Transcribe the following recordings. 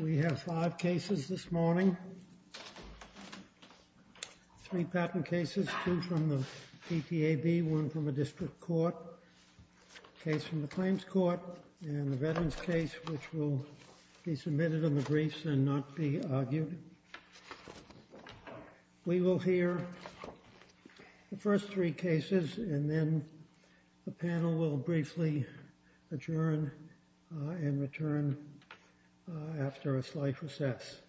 We have five cases this morning, three patent cases, two from the DTAB, one from a district court, a case from the claims court, and a veterans case which will be submitted in the briefs and not be argued. We will hear the first three cases, and then the panel will briefly adjourn and return after a slight recess.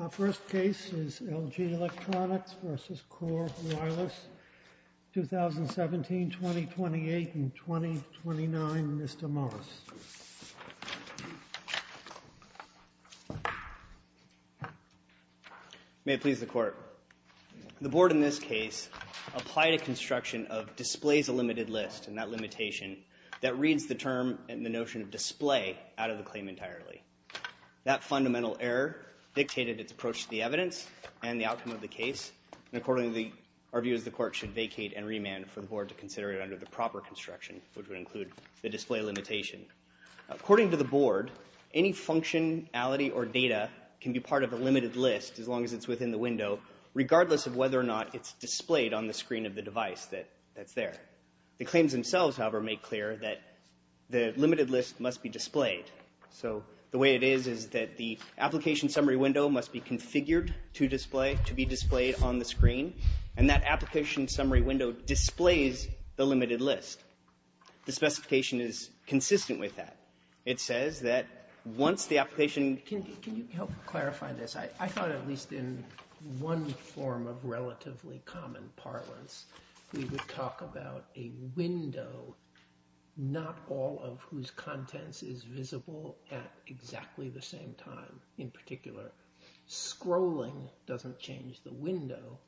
Our first case is LG Electronics v. Core Wireless, 2017, 2028, and 2029, Mr. Moss. May it please the Court. The Board in this case applied a construction of displays a limited list, and that limitation that reads the term and the notion of display out of the claim entirely. That fundamental error dictated its approach to the evidence and the outcome of the case, and accordingly, our view is the Court should vacate and remand for the Board to consider it under the proper construction, which would include the display limitation. According to the Board, any functionality or data can be part of a limited list as long as it's within the window, regardless of whether or not it's displayed on the screen of the device that's there. The claims themselves, however, make clear that the limited list must be displayed. So the way it is is that the application summary window must be configured to be displayed on the screen, and that application summary window displays the limited list. The specification is consistent with that. It says that once the application... Can you help clarify this? I thought at least in one form of relatively common parlance, we would talk about a window, not all of whose contents is visible at exactly the same time, in particular. Scrolling doesn't change the window,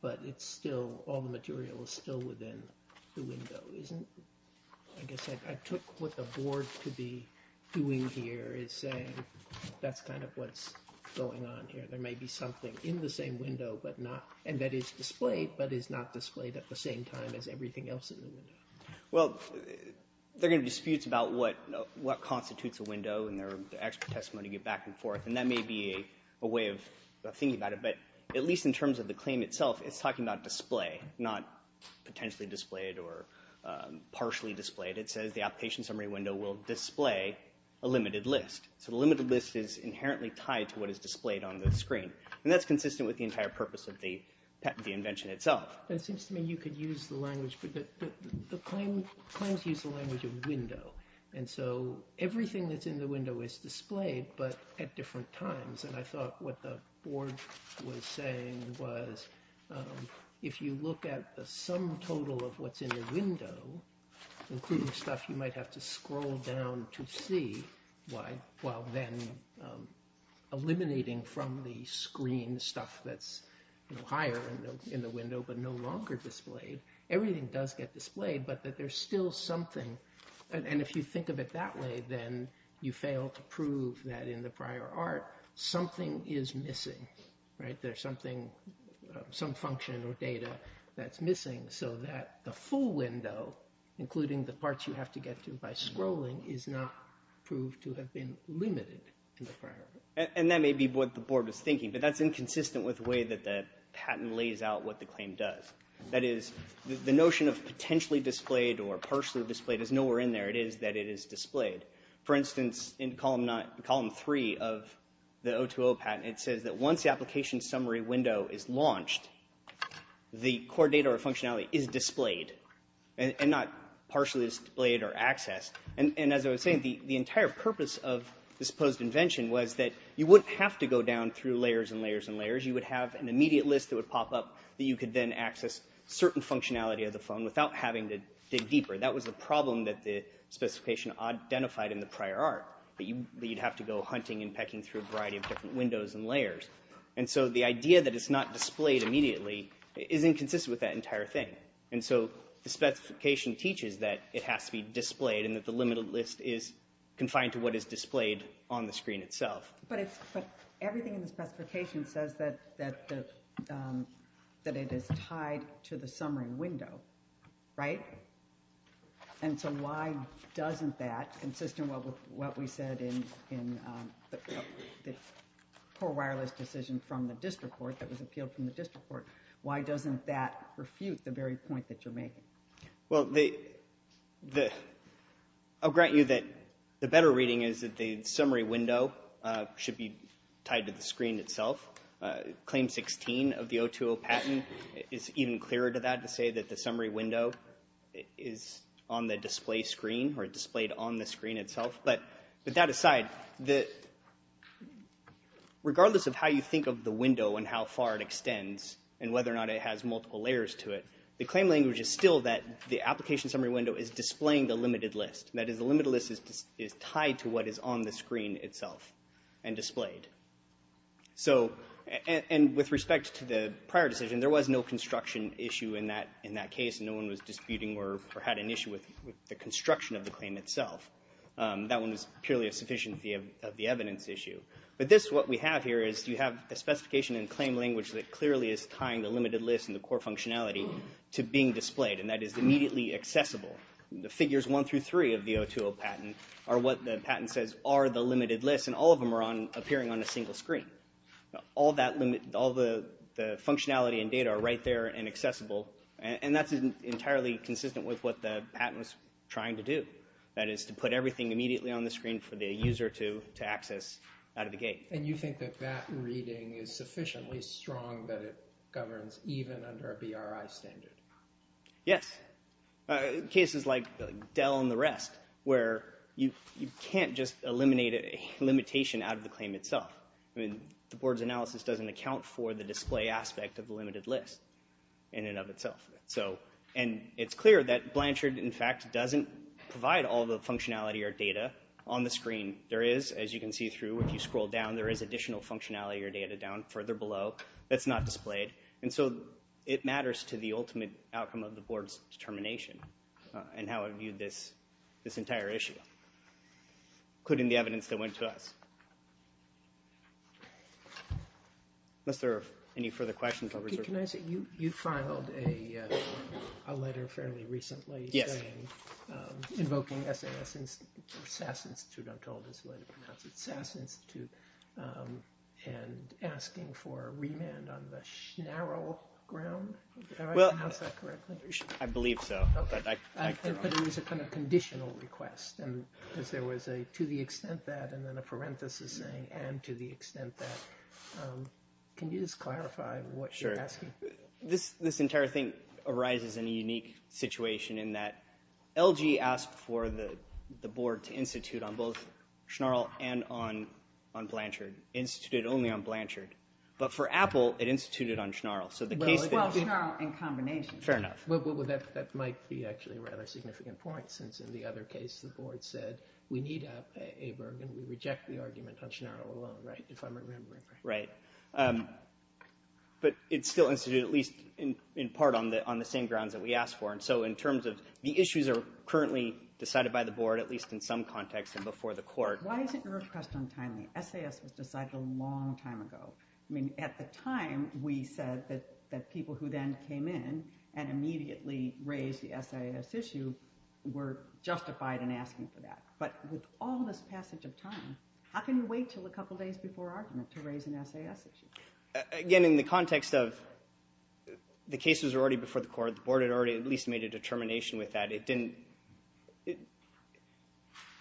but it's still... All the material is still within the window, isn't it? I guess I took what the Board could be doing here is saying that's kind of what's going on here. There may be something in the same window, and that is displayed, but is not displayed at the same time as everything else in the window. Well, there are going to be disputes about what constitutes a window, and there are expert testimonies back and forth, and that may be a way of thinking about it, but at least in terms of the claim itself, it's talking about display, not potentially displayed or partially displayed. It says the application summary window will display a limited list, so the limited list is inherently tied to what is displayed on the screen, and that's consistent with the entire purpose of the invention itself. It seems to me you could use the language, but the claims use the language of window, and so everything that's in the window is displayed, but at different times, and I thought what the Board was saying was if you look at the sum total of what's in the window, including stuff you might have to scroll down to see, while then eliminating from the screen stuff that's higher in the window, but no longer displayed, everything does get displayed, but that there's still something, and if you think of it that way, then you fail to prove that in the prior art, something is missing, right? There's something, some function or data that's missing, so that the full window, including the parts you have to get to by scrolling, is not proved to have been limited in the prior art. And that may be what the Board was thinking, but that's inconsistent with the way that the patent lays out what the claim does. That is, the notion of potentially displayed or partially displayed is nowhere in there. It is that it is displayed. For instance, in column three of the O2O patent, it says that once the application summary window is launched, the core data or functionality is displayed, and not partially displayed or accessed. And as I was saying, the entire purpose of this supposed invention was that you wouldn't have to go down through layers and layers and layers. You would have an immediate list that would pop up that you could then access certain functionality of the phone without having to dig deeper. That was a problem that the specification identified in the prior art, that you'd have to go hunting and pecking through a variety of different windows and layers. And so the idea that it's not displayed immediately is inconsistent with that entire thing. And so the specification teaches that it has to be displayed and that the limited list is confined to what is displayed on the screen itself. But everything in the specification says that it is tied to the summary window, right? And so why doesn't that, consistent with what we said in the core wireless decision from the district court that was appealed from the district court, why doesn't that refute the very point that you're making? Well, I'll grant you that the better reading is that the summary window should be tied to the screen itself. Claim 16 of the 020 patent is even clearer to that to say that the summary window is on the display screen or displayed on the screen itself. But with that aside, regardless of how you think of the window and how far it extends and whether or not it has multiple layers to it, the claim language is still that the application summary window is displaying the limited list. That is, the limited list is tied to what is on the screen itself and displayed. So, and with respect to the prior decision, there was no construction issue in that case. No one was disputing or had an issue with the construction of the claim itself. That one was purely a sufficiency of the evidence issue. But this, what we have here is you have the specification and claim language that clearly is tying the limited list and the core functionality to being displayed. And that is immediately accessible. The figures 1 through 3 of the 020 patent are what the patent says are the limited list. And all of them are appearing on a single screen. All that limit, all the functionality and data are right there and accessible. And that's entirely consistent with what the patent was trying to do. That is to put everything immediately on the screen for the user to access out of the gate. And you think that that reading is sufficiently strong that it governs even under a BRI standard? Yes. Cases like Dell and the rest where you can't just eliminate a limitation out of the claim itself. I mean, the board's analysis doesn't account for the display aspect of the limited list in and of itself. So, and it's clear that Blanchard, in fact, doesn't provide all the functionality or data on the screen. There is, as you can see through, if you scroll down, there is additional functionality or data down further below that's not displayed. And so, it matters to the ultimate outcome of the board's determination and how it viewed this entire issue, including the evidence that went to us. Unless there are any further questions, I'll reserve the floor. Can I say, you filed a letter fairly recently. Yes. Invoking SAS Institute, I'm told is the way to pronounce it. Invoking SAS Institute and asking for remand on the Schnarl ground. Did I pronounce that correctly? I believe so. Okay. But it was a kind of conditional request. And there was a to the extent that and then a parenthesis saying, and to the extent that. Can you just clarify what you're asking? This entire thing arises in a unique situation in that LG asked for the board to institute on both Schnarl and on Blanchard. Instituted only on Blanchard. But for Apple, it instituted on Schnarl. Well, Schnarl and combination. Fair enough. That might be actually a rather significant point, since in the other case, the board said, we need Aberg and we reject the argument on Schnarl alone, right? If I'm remembering right. Right. But it's still instituted at least in part on the same grounds that we asked for. And so, in terms of the issues are currently decided by the board, at least in some context and before the court. Why isn't your request untimely? SAS was decided a long time ago. I mean, at the time, we said that people who then came in and immediately raised the SAS issue were justified in asking for that. But with all this passage of time, how can you wait till a couple days before argument to raise an SAS issue? Again, in the context of the case was already before the court, the board had already at least made a determination with that. It didn't,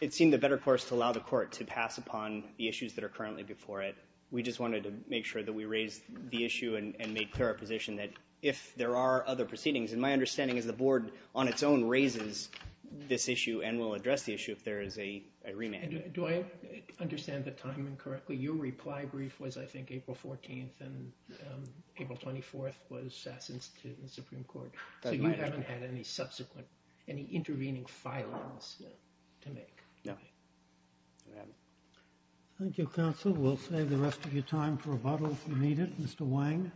it seemed a better course to allow the court to pass upon the issues that are currently before it. We just wanted to make sure that we raised the issue and made clear our position that if there are other proceedings, and my understanding is the board on its own raises this issue and will address the issue if there is a remand. Do I understand the timing correctly? Your reply brief was, I think, April 14th and April 24th was SAS instituted in the Supreme Court. So you haven't had any subsequent, any intervening filings to make? No. Thank you, counsel. We'll save the rest of your time for rebuttal if you need it. Mr. Wang.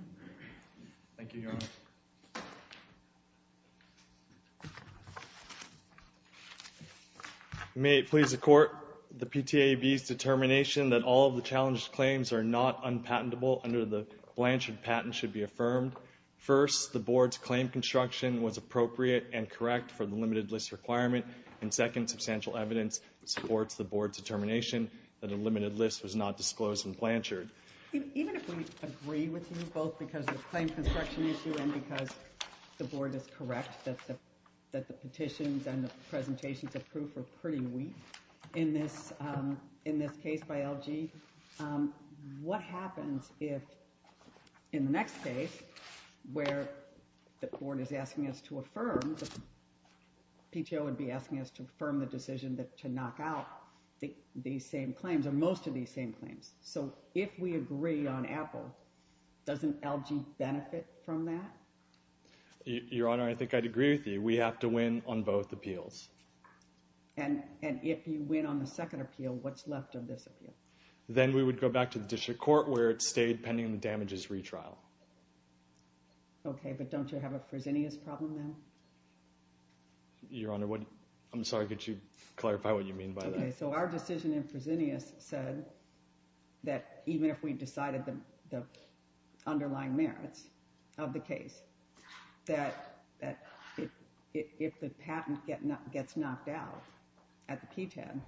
Thank you, Your Honor. May it please the court, the PTAB's determination that all of the challenged claims are not unpatentable under the Blanchard patent should be affirmed. First, the board's claim construction was appropriate and correct for the limited list requirement. And second, substantial evidence supports the board's determination that a limited list was not disclosed in Blanchard. Even if we agree with you, both because of the claim construction issue and because the board is correct that the petitions and the presentations approved were pretty weak in this case by LG, what happens if, in the next case, where the board is asking us to affirm, PTO would be asking us to affirm the decision to knock out these same claims, or most of these same claims. So if we agree on Apple, doesn't LG benefit from that? Your Honor, I think I'd agree with you. We have to win on both appeals. And if you win on the second appeal, what's left of this appeal? Then we would go back to the district court, where it stayed pending the damages retrial. OK, but don't you have a Fresenius problem now? Your Honor, I'm sorry, could you clarify what you mean by that? So our decision in Fresenius said that even if we decided the underlying merits of the case, that if the patent gets knocked out at the PTAB,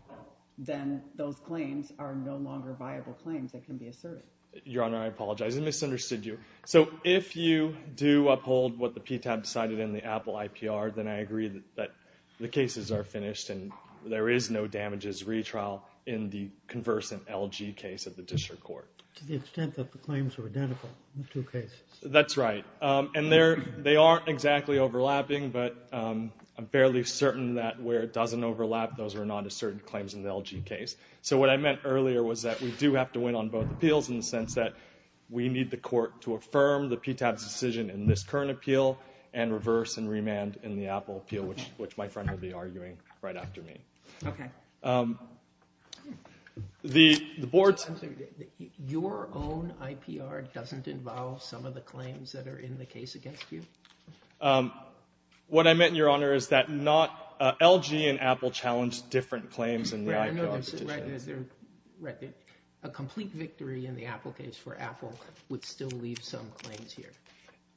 then those claims are no longer viable claims that can be asserted. Your Honor, I apologize, I misunderstood you. So if you do uphold what the PTAB decided in the Apple IPR, then I agree that the cases are finished, and there is no damages retrial in the conversant LG case of the district court. To the extent that the claims are identical in the two cases. That's right. And they aren't exactly overlapping, but I'm fairly certain that where it doesn't overlap, those are non-asserted claims in the LG case. So what I meant earlier was that we do have to win on both appeals, in the sense that we need the court to affirm the PTAB's decision in this current appeal, and reverse and remand in the Apple appeal, which my friend will be arguing right after me. OK. The board's. Your own IPR doesn't involve some of the claims that are in the case against you? What I meant, Your Honor, is that LG and Apple challenged different claims in the IPR. A complete victory in the Apple case for Apple would still leave some claims here.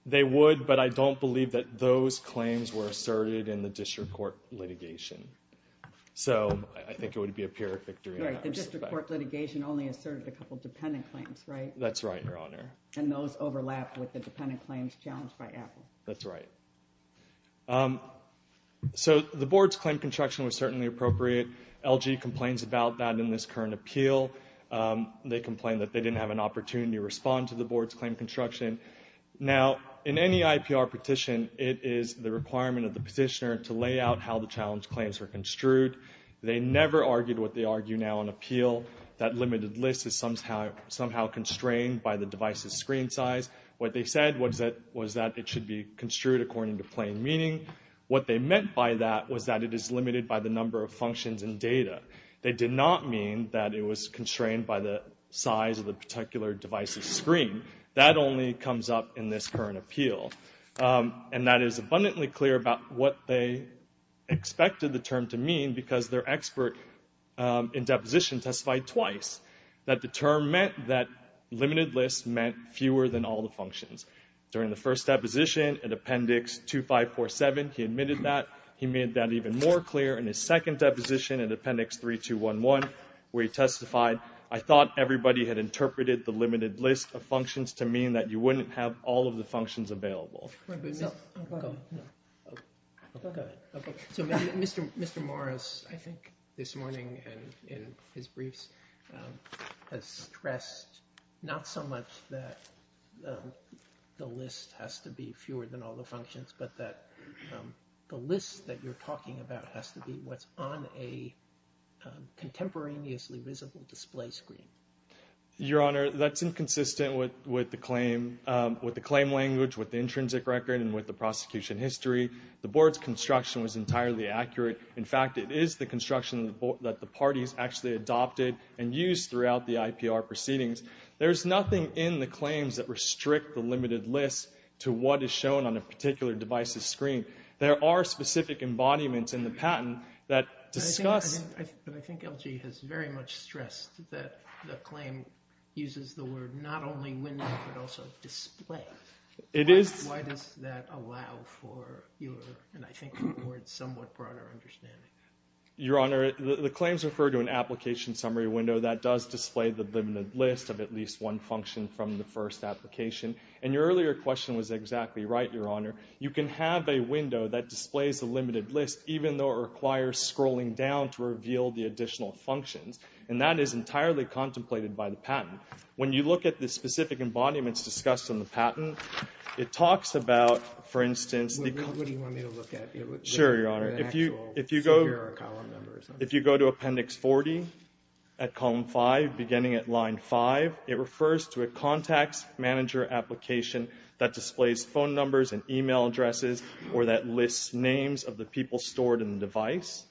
They would, but I don't believe that those claims were asserted in the district court litigation. So I think it would be a pure victory. The district court litigation only asserted a couple of dependent claims, right? That's right, Your Honor. And those overlap with the dependent claims challenged by Apple. That's right. So the board's claim construction was certainly appropriate. LG complains about that in this current appeal. They complain that they didn't have an opportunity to respond to the board's claim construction. Now, in any IPR petition, it is the requirement of the petitioner to lay out how the challenge claims were construed. They never argued what they argue now on appeal. That limited list is somehow constrained by the device's screen size. What they said was that it should be construed according to plain meaning. What they meant by that was that it is limited by the number of functions and data. They did not mean that it was constrained by the size of the particular device's screen. That only comes up in this current appeal. And that is abundantly clear about what they expected the term to mean because their expert in deposition testified twice that the term meant that limited lists meant fewer than all the functions. During the first deposition, in appendix 2547, he admitted that. He made that even more clear in his second deposition in appendix 3211, where he testified, I thought everybody had interpreted the limited list of functions to mean that you wouldn't have all of the functions available. So, Mr. Morris, I think, this morning in his briefs has stressed not so much that the list has to be fewer than all the functions, but that the list that you're talking about has to be what's on a contemporaneously visible display screen. Your Honor, that's inconsistent with the claim language, with the intrinsic record, and with the prosecution history. The board's construction was entirely accurate. In fact, it is the construction that the parties actually adopted and used throughout the IPR proceedings. There's nothing in the claims that restrict the limited list to what is shown on a particular device's screen. There are specific embodiments in the patent that discuss... But I think LG has very much stressed that the claim uses the word not only window, but also display. Why does that allow for your, and I think the board's somewhat broader understanding? Your Honor, the claims refer to an application summary window that does display the limited list of at least one function from the first application. And your earlier question was exactly right, Your Honor. You can have a window that displays a limited list, even though it requires scrolling down to reveal the additional functions. And that is entirely contemplated by the patent. When you look at the specific embodiments discussed in the patent, it talks about, for instance... What do you want me to look at? Sure, Your Honor. If you go to appendix 40 at column 5, beginning at line 5, it refers to a contacts manager application that displays phone numbers and email addresses, or that lists names of the people stored in the device.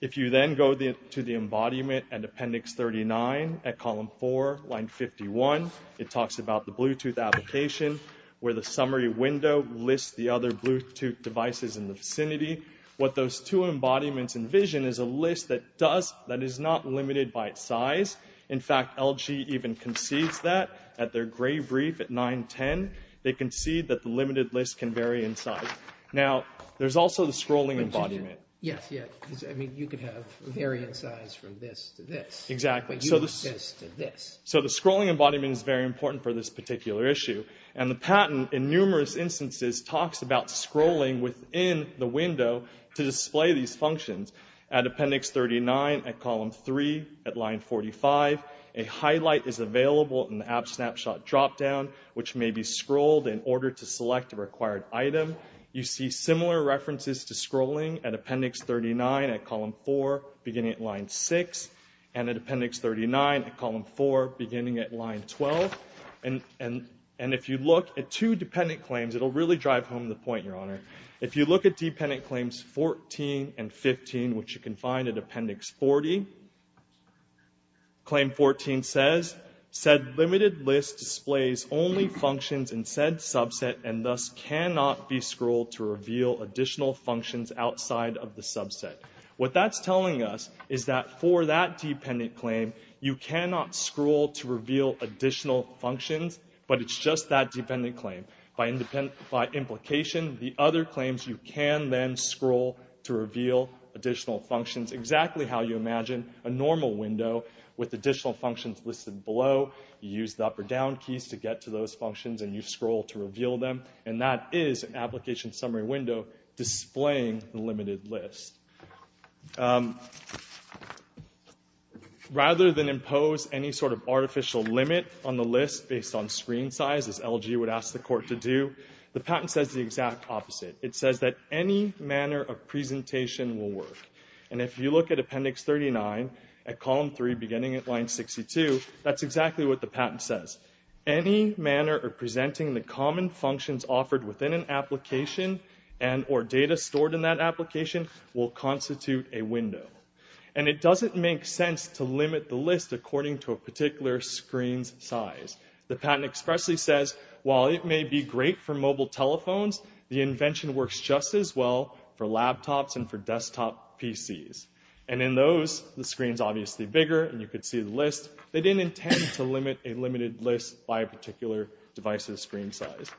If you then go to the embodiment at appendix 39 at column 4, line 51, it talks about the Bluetooth application, where the summary window lists the other Bluetooth devices in the vicinity. What those two embodiments envision is a list that does, that is not limited by its size. In fact, LG even concedes that. At their gray brief at 910, they concede that the limited list can vary in size. Now, there's also the scrolling embodiment. Yes, yes. I mean, you could have varying size from this to this. Exactly. But you have this to this. So the scrolling embodiment is very important for this particular issue. And the patent, in numerous instances, talks about scrolling within the window to display these functions. At appendix 39 at column 3 at line 45, a highlight is available in the app snapshot dropdown, which may be scrolled in order to select a required item. You see similar references to scrolling at appendix 39 at column 4, beginning at line 6, and at appendix 39 at column 4, beginning at line 12. And if you look at two dependent claims, it'll really drive home the point, Your Honor. If you look at dependent claims 14 and 15, which you can find at appendix 40, claim 14 says, said limited list displays only functions in said subset and thus cannot be scrolled to reveal additional functions outside of the subset. What that's telling us is that for that dependent claim, you cannot scroll to reveal additional functions, but it's just that dependent claim. By implication, the other claims, you can then scroll to reveal additional functions exactly how you imagine a normal window with additional functions listed below. You use the up or down keys to get to those functions and you scroll to reveal them. And that is an application summary window displaying the limited list. Rather than impose any sort of artificial limit on the list based on screen size, as LG would ask the court to do, the patent says the exact opposite. It says that any manner of presentation will work. And if you look at appendix 39 at column 3, beginning at line 62, that's exactly what the patent says. Any manner of presenting the common functions offered within an application and or data stored in that application will constitute a window. And it doesn't make sense to limit the list according to a particular screen's size. The patent expressly says, while it may be great for mobile telephones, the invention works just as well for laptops and for desktop PCs. And in those, the screen's obviously bigger and you could see the list. They didn't intend to limit a limited list by a particular device's screen size.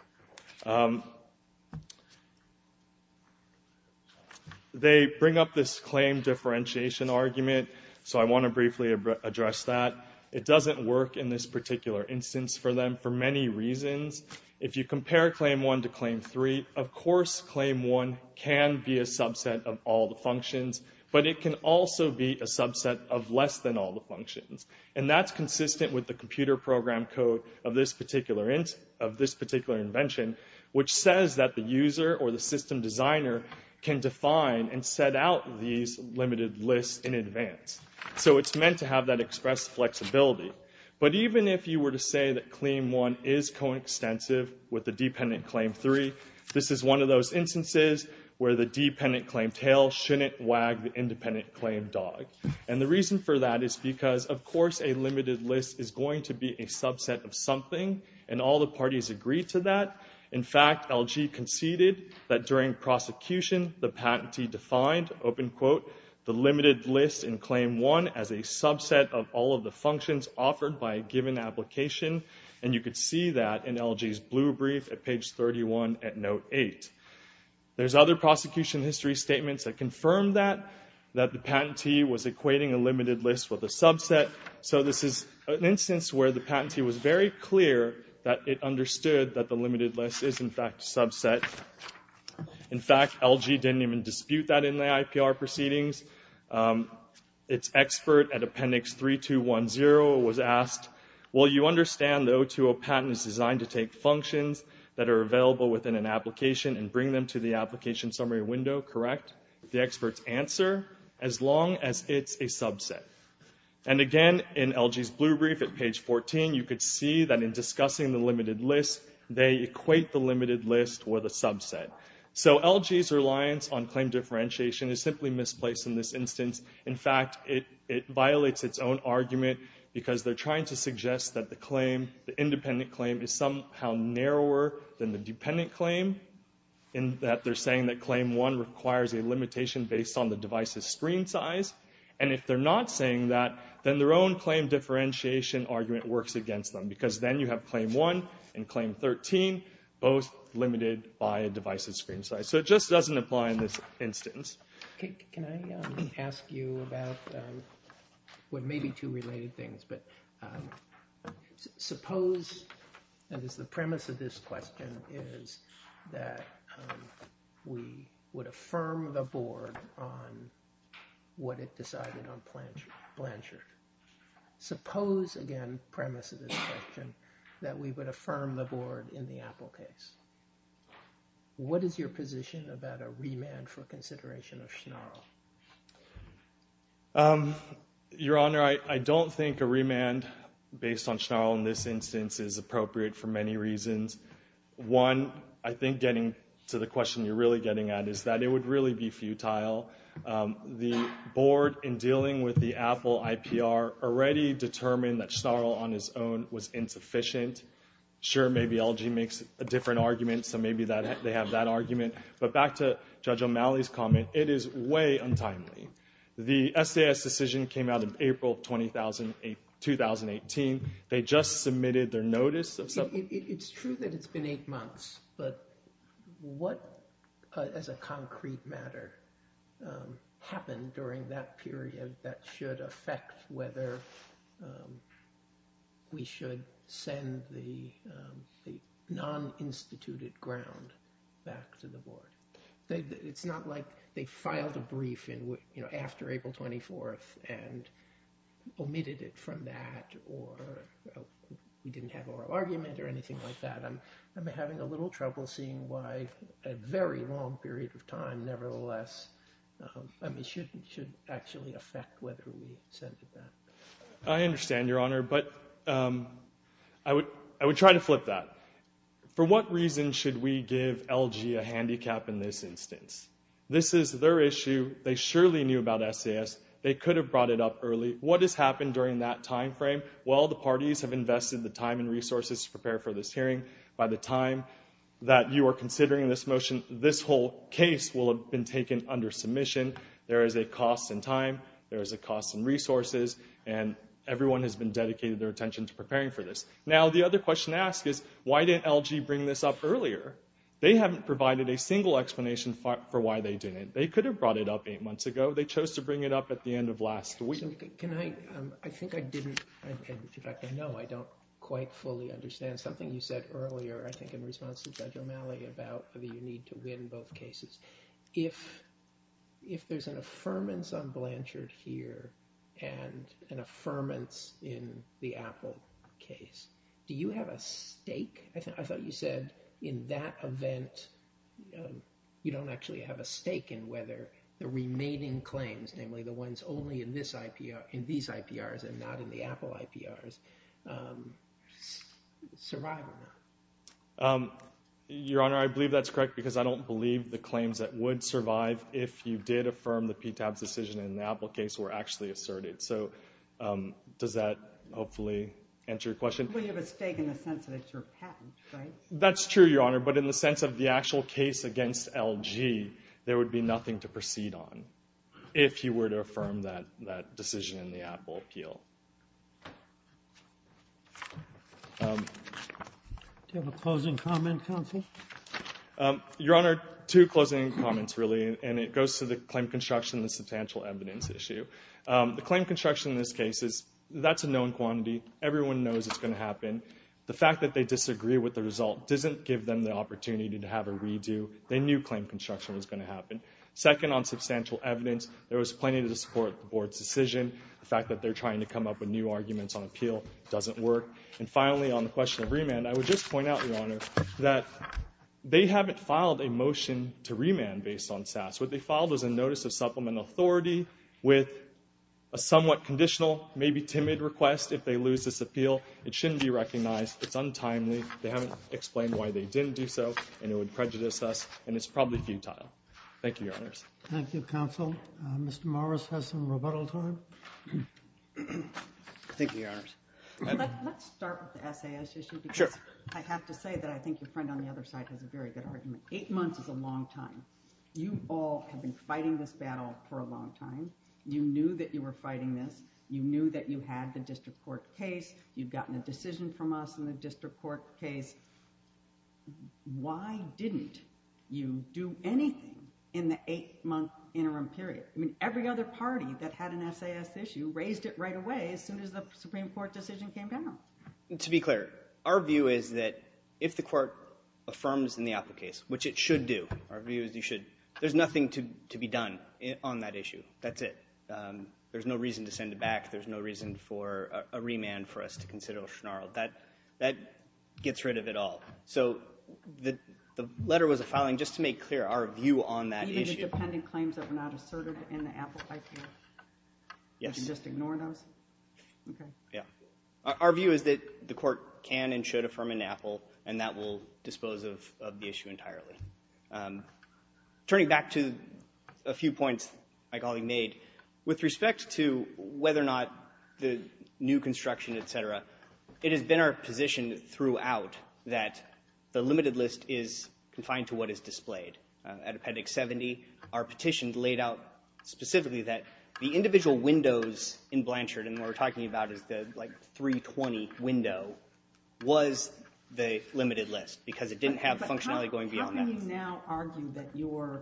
They bring up this claim differentiation argument, so I want to briefly address that. It doesn't work in this particular instance for them for many reasons. If you compare claim one to claim three, of course claim one can be a subset of all the functions, but it can also be a subset of less than all the functions. And that's consistent with the computer program code of this particular invention, which says that the user or the system designer can define and set out these limited lists in advance. So it's meant to have that express flexibility. But even if you were to say that claim one is coextensive with the dependent claim three, this is one of those instances where the dependent claim tail shouldn't wag the independent claim dog. And the reason for that is because, of course a limited list is going to be a subset of something, and all the parties agree to that. In fact, LG conceded that during prosecution, the patentee defined, open quote, the limited list in claim one as a subset of all of the functions offered by a given application. And you could see that in LG's blue brief at page 31 at note eight. There's other prosecution history statements that confirm that, that the patentee was equating a limited list with a subset. So this is an instance where the patentee was very clear that it understood that the limited list is in fact a subset. In fact, LG didn't even dispute that in the IPR proceedings. Its expert at appendix 3210 was asked, well you understand the O2O patent is designed to take functions that are available within an application and bring them to the application summary window, correct? The expert's answer, as long as it's a subset. And again, in LG's blue brief at page 14, you could see that in discussing the limited list, they equate the limited list with a subset. So LG's reliance on claim differentiation is simply misplaced in this instance. In fact, it violates its own argument because they're trying to suggest that the claim, the independent claim, is somehow narrower than the dependent claim in that they're saying that claim one requires a limitation based on the device's screen size. And if they're not saying that, then their own claim differentiation argument works against them because then you have claim one and claim 13, both limited by a device's screen size. So it just doesn't apply in this instance. Can I ask you about, well maybe two related things, but suppose, that is the premise of this question, is that we would affirm the board on what it decided on Blanchard. Suppose, again, the premise of this question, that we would affirm the board in the Apple case. What is your position about a remand for consideration of Schnarl? Your Honor, I don't think a remand based on Schnarl in this instance is appropriate for many reasons. One, I think getting to the question you're really getting at is that it would really be futile. The board, in dealing with the Apple IPR, already determined that Schnarl on his own was insufficient. Sure, maybe LG makes a different argument, so maybe they have that argument. But back to Judge O'Malley's comment, it is way untimely. The SAS decision came out in April of 2018. They just submitted their notice of. It's true that it's been eight months, but what, as a concrete matter, happened during that period that should affect whether we should send the non-instituted ground back to the board? It's not like they filed a brief after April 24th and omitted it from that, or we didn't have oral argument or anything like that. I'm having a little trouble seeing why a very long period of time, nevertheless, I mean, should actually affect whether we send it back. I understand, Your Honor, but I would try to flip that. For what reason should we give LG a handicap in this instance? This is their issue. They surely knew about SAS. They could have brought it up early. What has happened during that timeframe? Well, the parties have invested the time and resources to prepare for this hearing. By the time that you are considering this motion, this whole case will have been taken under submission. There is a cost in time. There is a cost in resources, and everyone has been dedicated their attention to preparing for this. Now, the other question to ask is, why didn't LG bring this up earlier? They haven't provided a single explanation for why they didn't. They could have brought it up eight months ago. They chose to bring it up at the end of last week. Can I, I think I didn't, in fact, I know I don't quite fully understand something you said earlier, I think in response to Judge O'Malley about whether you need to win both cases. If there's an affirmance on Blanchard here and an affirmance in the Apple case, do you have a stake? I thought you said in that event, you don't actually have a stake in whether the remaining claims, namely the ones only in this IPR, in these IPRs and not in the Apple IPRs, survivable? Your Honor, I believe that's correct because I don't believe the claims that would survive if you did affirm the PTAB's decision in the Apple case were actually asserted. So does that hopefully answer your question? Well, you have a stake in the sense that it's your patent, right? That's true, Your Honor, but in the sense of the actual case against LG, there would be nothing to proceed on if you were to affirm that decision in the Apple appeal. Do you have a closing comment, counsel? Your Honor, two closing comments, really, and it goes to the claim construction and the substantial evidence issue. The claim construction in this case is, that's a known quantity. Everyone knows it's going to happen. The fact that they disagree with the result doesn't give them the opportunity to have a redo. They knew claim construction was going to happen. Second, on substantial evidence, there was plenty to support the board's decision. The fact that they're trying to come up with new arguments on appeal doesn't work. And finally, on the question of remand, I would just point out, Your Honor, that they haven't filed a motion to remand based on SAS. What they filed was a notice of supplemental authority with a somewhat conditional, maybe timid, request if they lose this appeal. It shouldn't be recognized. It's untimely. They haven't explained why they didn't do so, and it would prejudice us, and it's probably futile. Thank you, Your Honors. Thank you, counsel. Mr. Morris has some rebuttal time. Thank you, Your Honors. Let's start with the SAS issue, because I have to say that I think your friend on the other side has a very good argument. Eight months is a long time. You all have been fighting this battle for a long time. You knew that you were fighting this. You knew that you had the district court case. You've gotten a decision from us in the district court case. Why didn't you do anything in the eight-month interim period? Every other party that had an SAS issue raised it right away as soon as the Supreme Court decision came down. To be clear, our view is that if the court affirms in the Apple case, which it should do. Our view is you should. There's nothing to be done on that issue. That's it. There's no reason to send it back. There's no reason for a remand for us to consider Oshnaro. That gets rid of it all. So the letter was a filing just to make clear our view on that issue. Even the dependent claims that were not asserted in the Apple case. Yes. You can just ignore those? OK. Yeah. Our view is that the court can and should affirm in Apple, and that will dispose of the issue entirely. Turning back to a few points my colleague made, with respect to whether or not the new construction, et cetera, it has been our position throughout that the limited list is confined to what is displayed. At Appendix 70, our petition laid out specifically that the individual windows in Blanchard, and what we're talking about is the 320 window, was the limited list, because it didn't have functionality going beyond that. But how can you now argue that your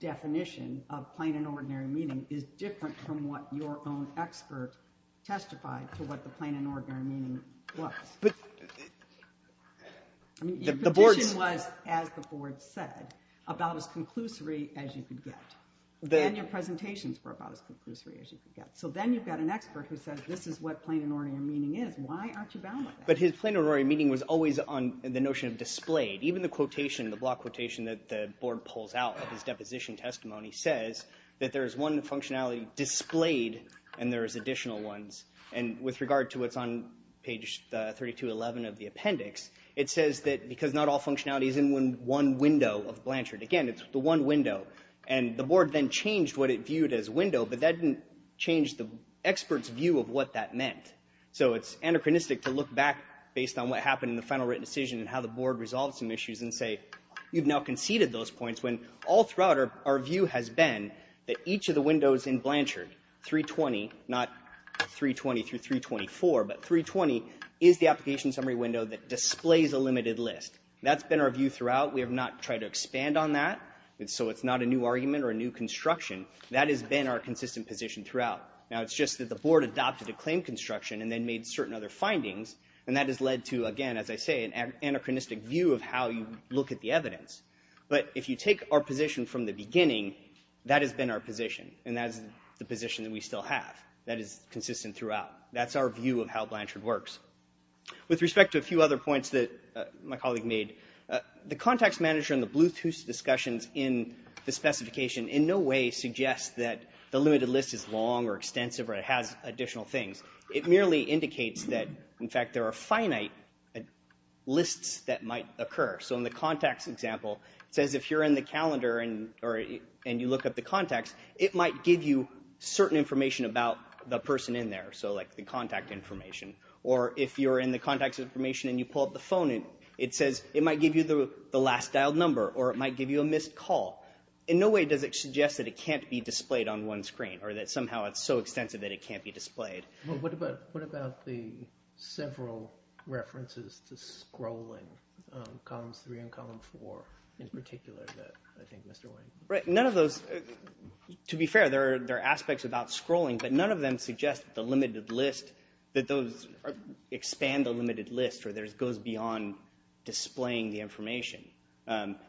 definition of plain and ordinary meaning is different from what your own expert testified to what the plain and ordinary meaning was? But the board's. Your petition was, as the board said, about as conclusory as you could get. And your presentations were about as conclusory as you could get. So then you've got an expert who says, this is what plain and ordinary meaning is. Why aren't you bound by that? But his plain and ordinary meaning was always on the notion of displayed. Even the quotation, the block quotation that the board pulls out of his deposition testimony says that there is one functionality displayed, and there is additional ones. And with regard to what's on page 3211 of the appendix, it says that because not all functionality is in one window of Blanchard. Again, it's the one window. And the board then changed what it viewed as a window, but that didn't change the expert's view of what that meant. So it's anachronistic to look back based on what happened in the final written decision and how the board resolved some issues and say, you've now conceded those points, when all throughout our view has been that each of the windows in Blanchard, 320, not 320 through 324, but 320 is the application summary window that displays a limited list. That's been our view throughout. We have not tried to expand on that. So it's not a new argument or a new construction. That has been our consistent position throughout. Now, it's just that the board adopted a claim construction and then made certain other findings. And that has led to, again, as I say, an anachronistic view of how you look at the evidence. But if you take our position from the beginning, that has been our position. And that is the position that we still have. That is consistent throughout. That's our view of how Blanchard works. With respect to a few other points that my colleague made, the Contacts Manager and the Bluetooth discussions in the specification in no way suggest that the limited list is long or extensive or it has additional things. It merely indicates that, in fact, there are finite lists that might occur. So in the contacts example, it says if you're in the calendar and you look up the contacts, it might give you certain information about the person in there. So like the contact information. Or if you're in the contacts information and you pull up the phone, it says it might give you the last dialed number or it might give you a missed call. In no way does it suggest that it can't be displayed on one screen or that somehow it's so extensive that it can't be displayed. Well, what about the several references to scrolling, columns three and column four, in particular, that I think Mr. Wayne? Right, none of those. To be fair, there are aspects about scrolling, but none of them suggest that the limited list, that those expand the limited list or that it goes beyond displaying the information.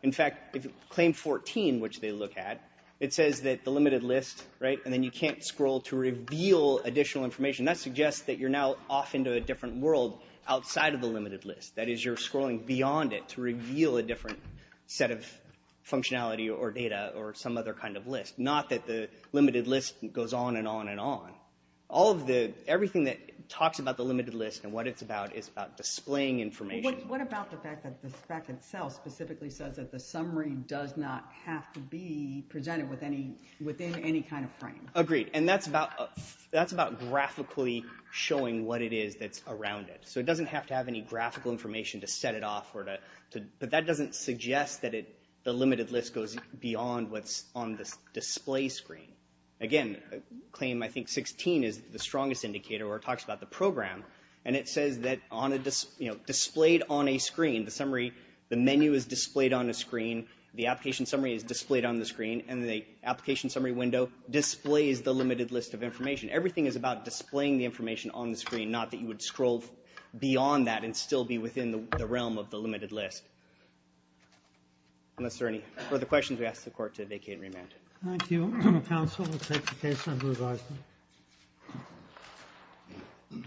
In fact, claim 14, which they look at, it says that the limited list, and then you can't scroll to reveal additional information. That suggests that you're now off into a different world outside of the limited list. That is, you're scrolling beyond it to reveal a different set of functionality or data or some other kind of list. Not that the limited list goes on and on and on. All of the, everything that talks about the limited list and what it's about is about displaying information. What about the fact that the spec itself specifically says that the summary does not have to be presented within any kind of frame? Agreed, and that's about graphically showing what it is that's around it. So it doesn't have to have any graphical information to set it off, but that doesn't suggest that the limited list goes beyond what's on the display screen. Again, claim, I think, 16 is the strongest indicator where it talks about the program, and it says that on a, you know, displayed on a screen, the summary, the menu is displayed on a screen, the application summary is displayed on the screen, and the application summary window displays the limited list of information. Everything is about displaying the information on the screen, not that you would scroll beyond that and still be within the realm of the limited list. Unless there are any further questions, we ask the Court to vacate and remand. Thank you, counsel. We'll take the case under revising. Thank you.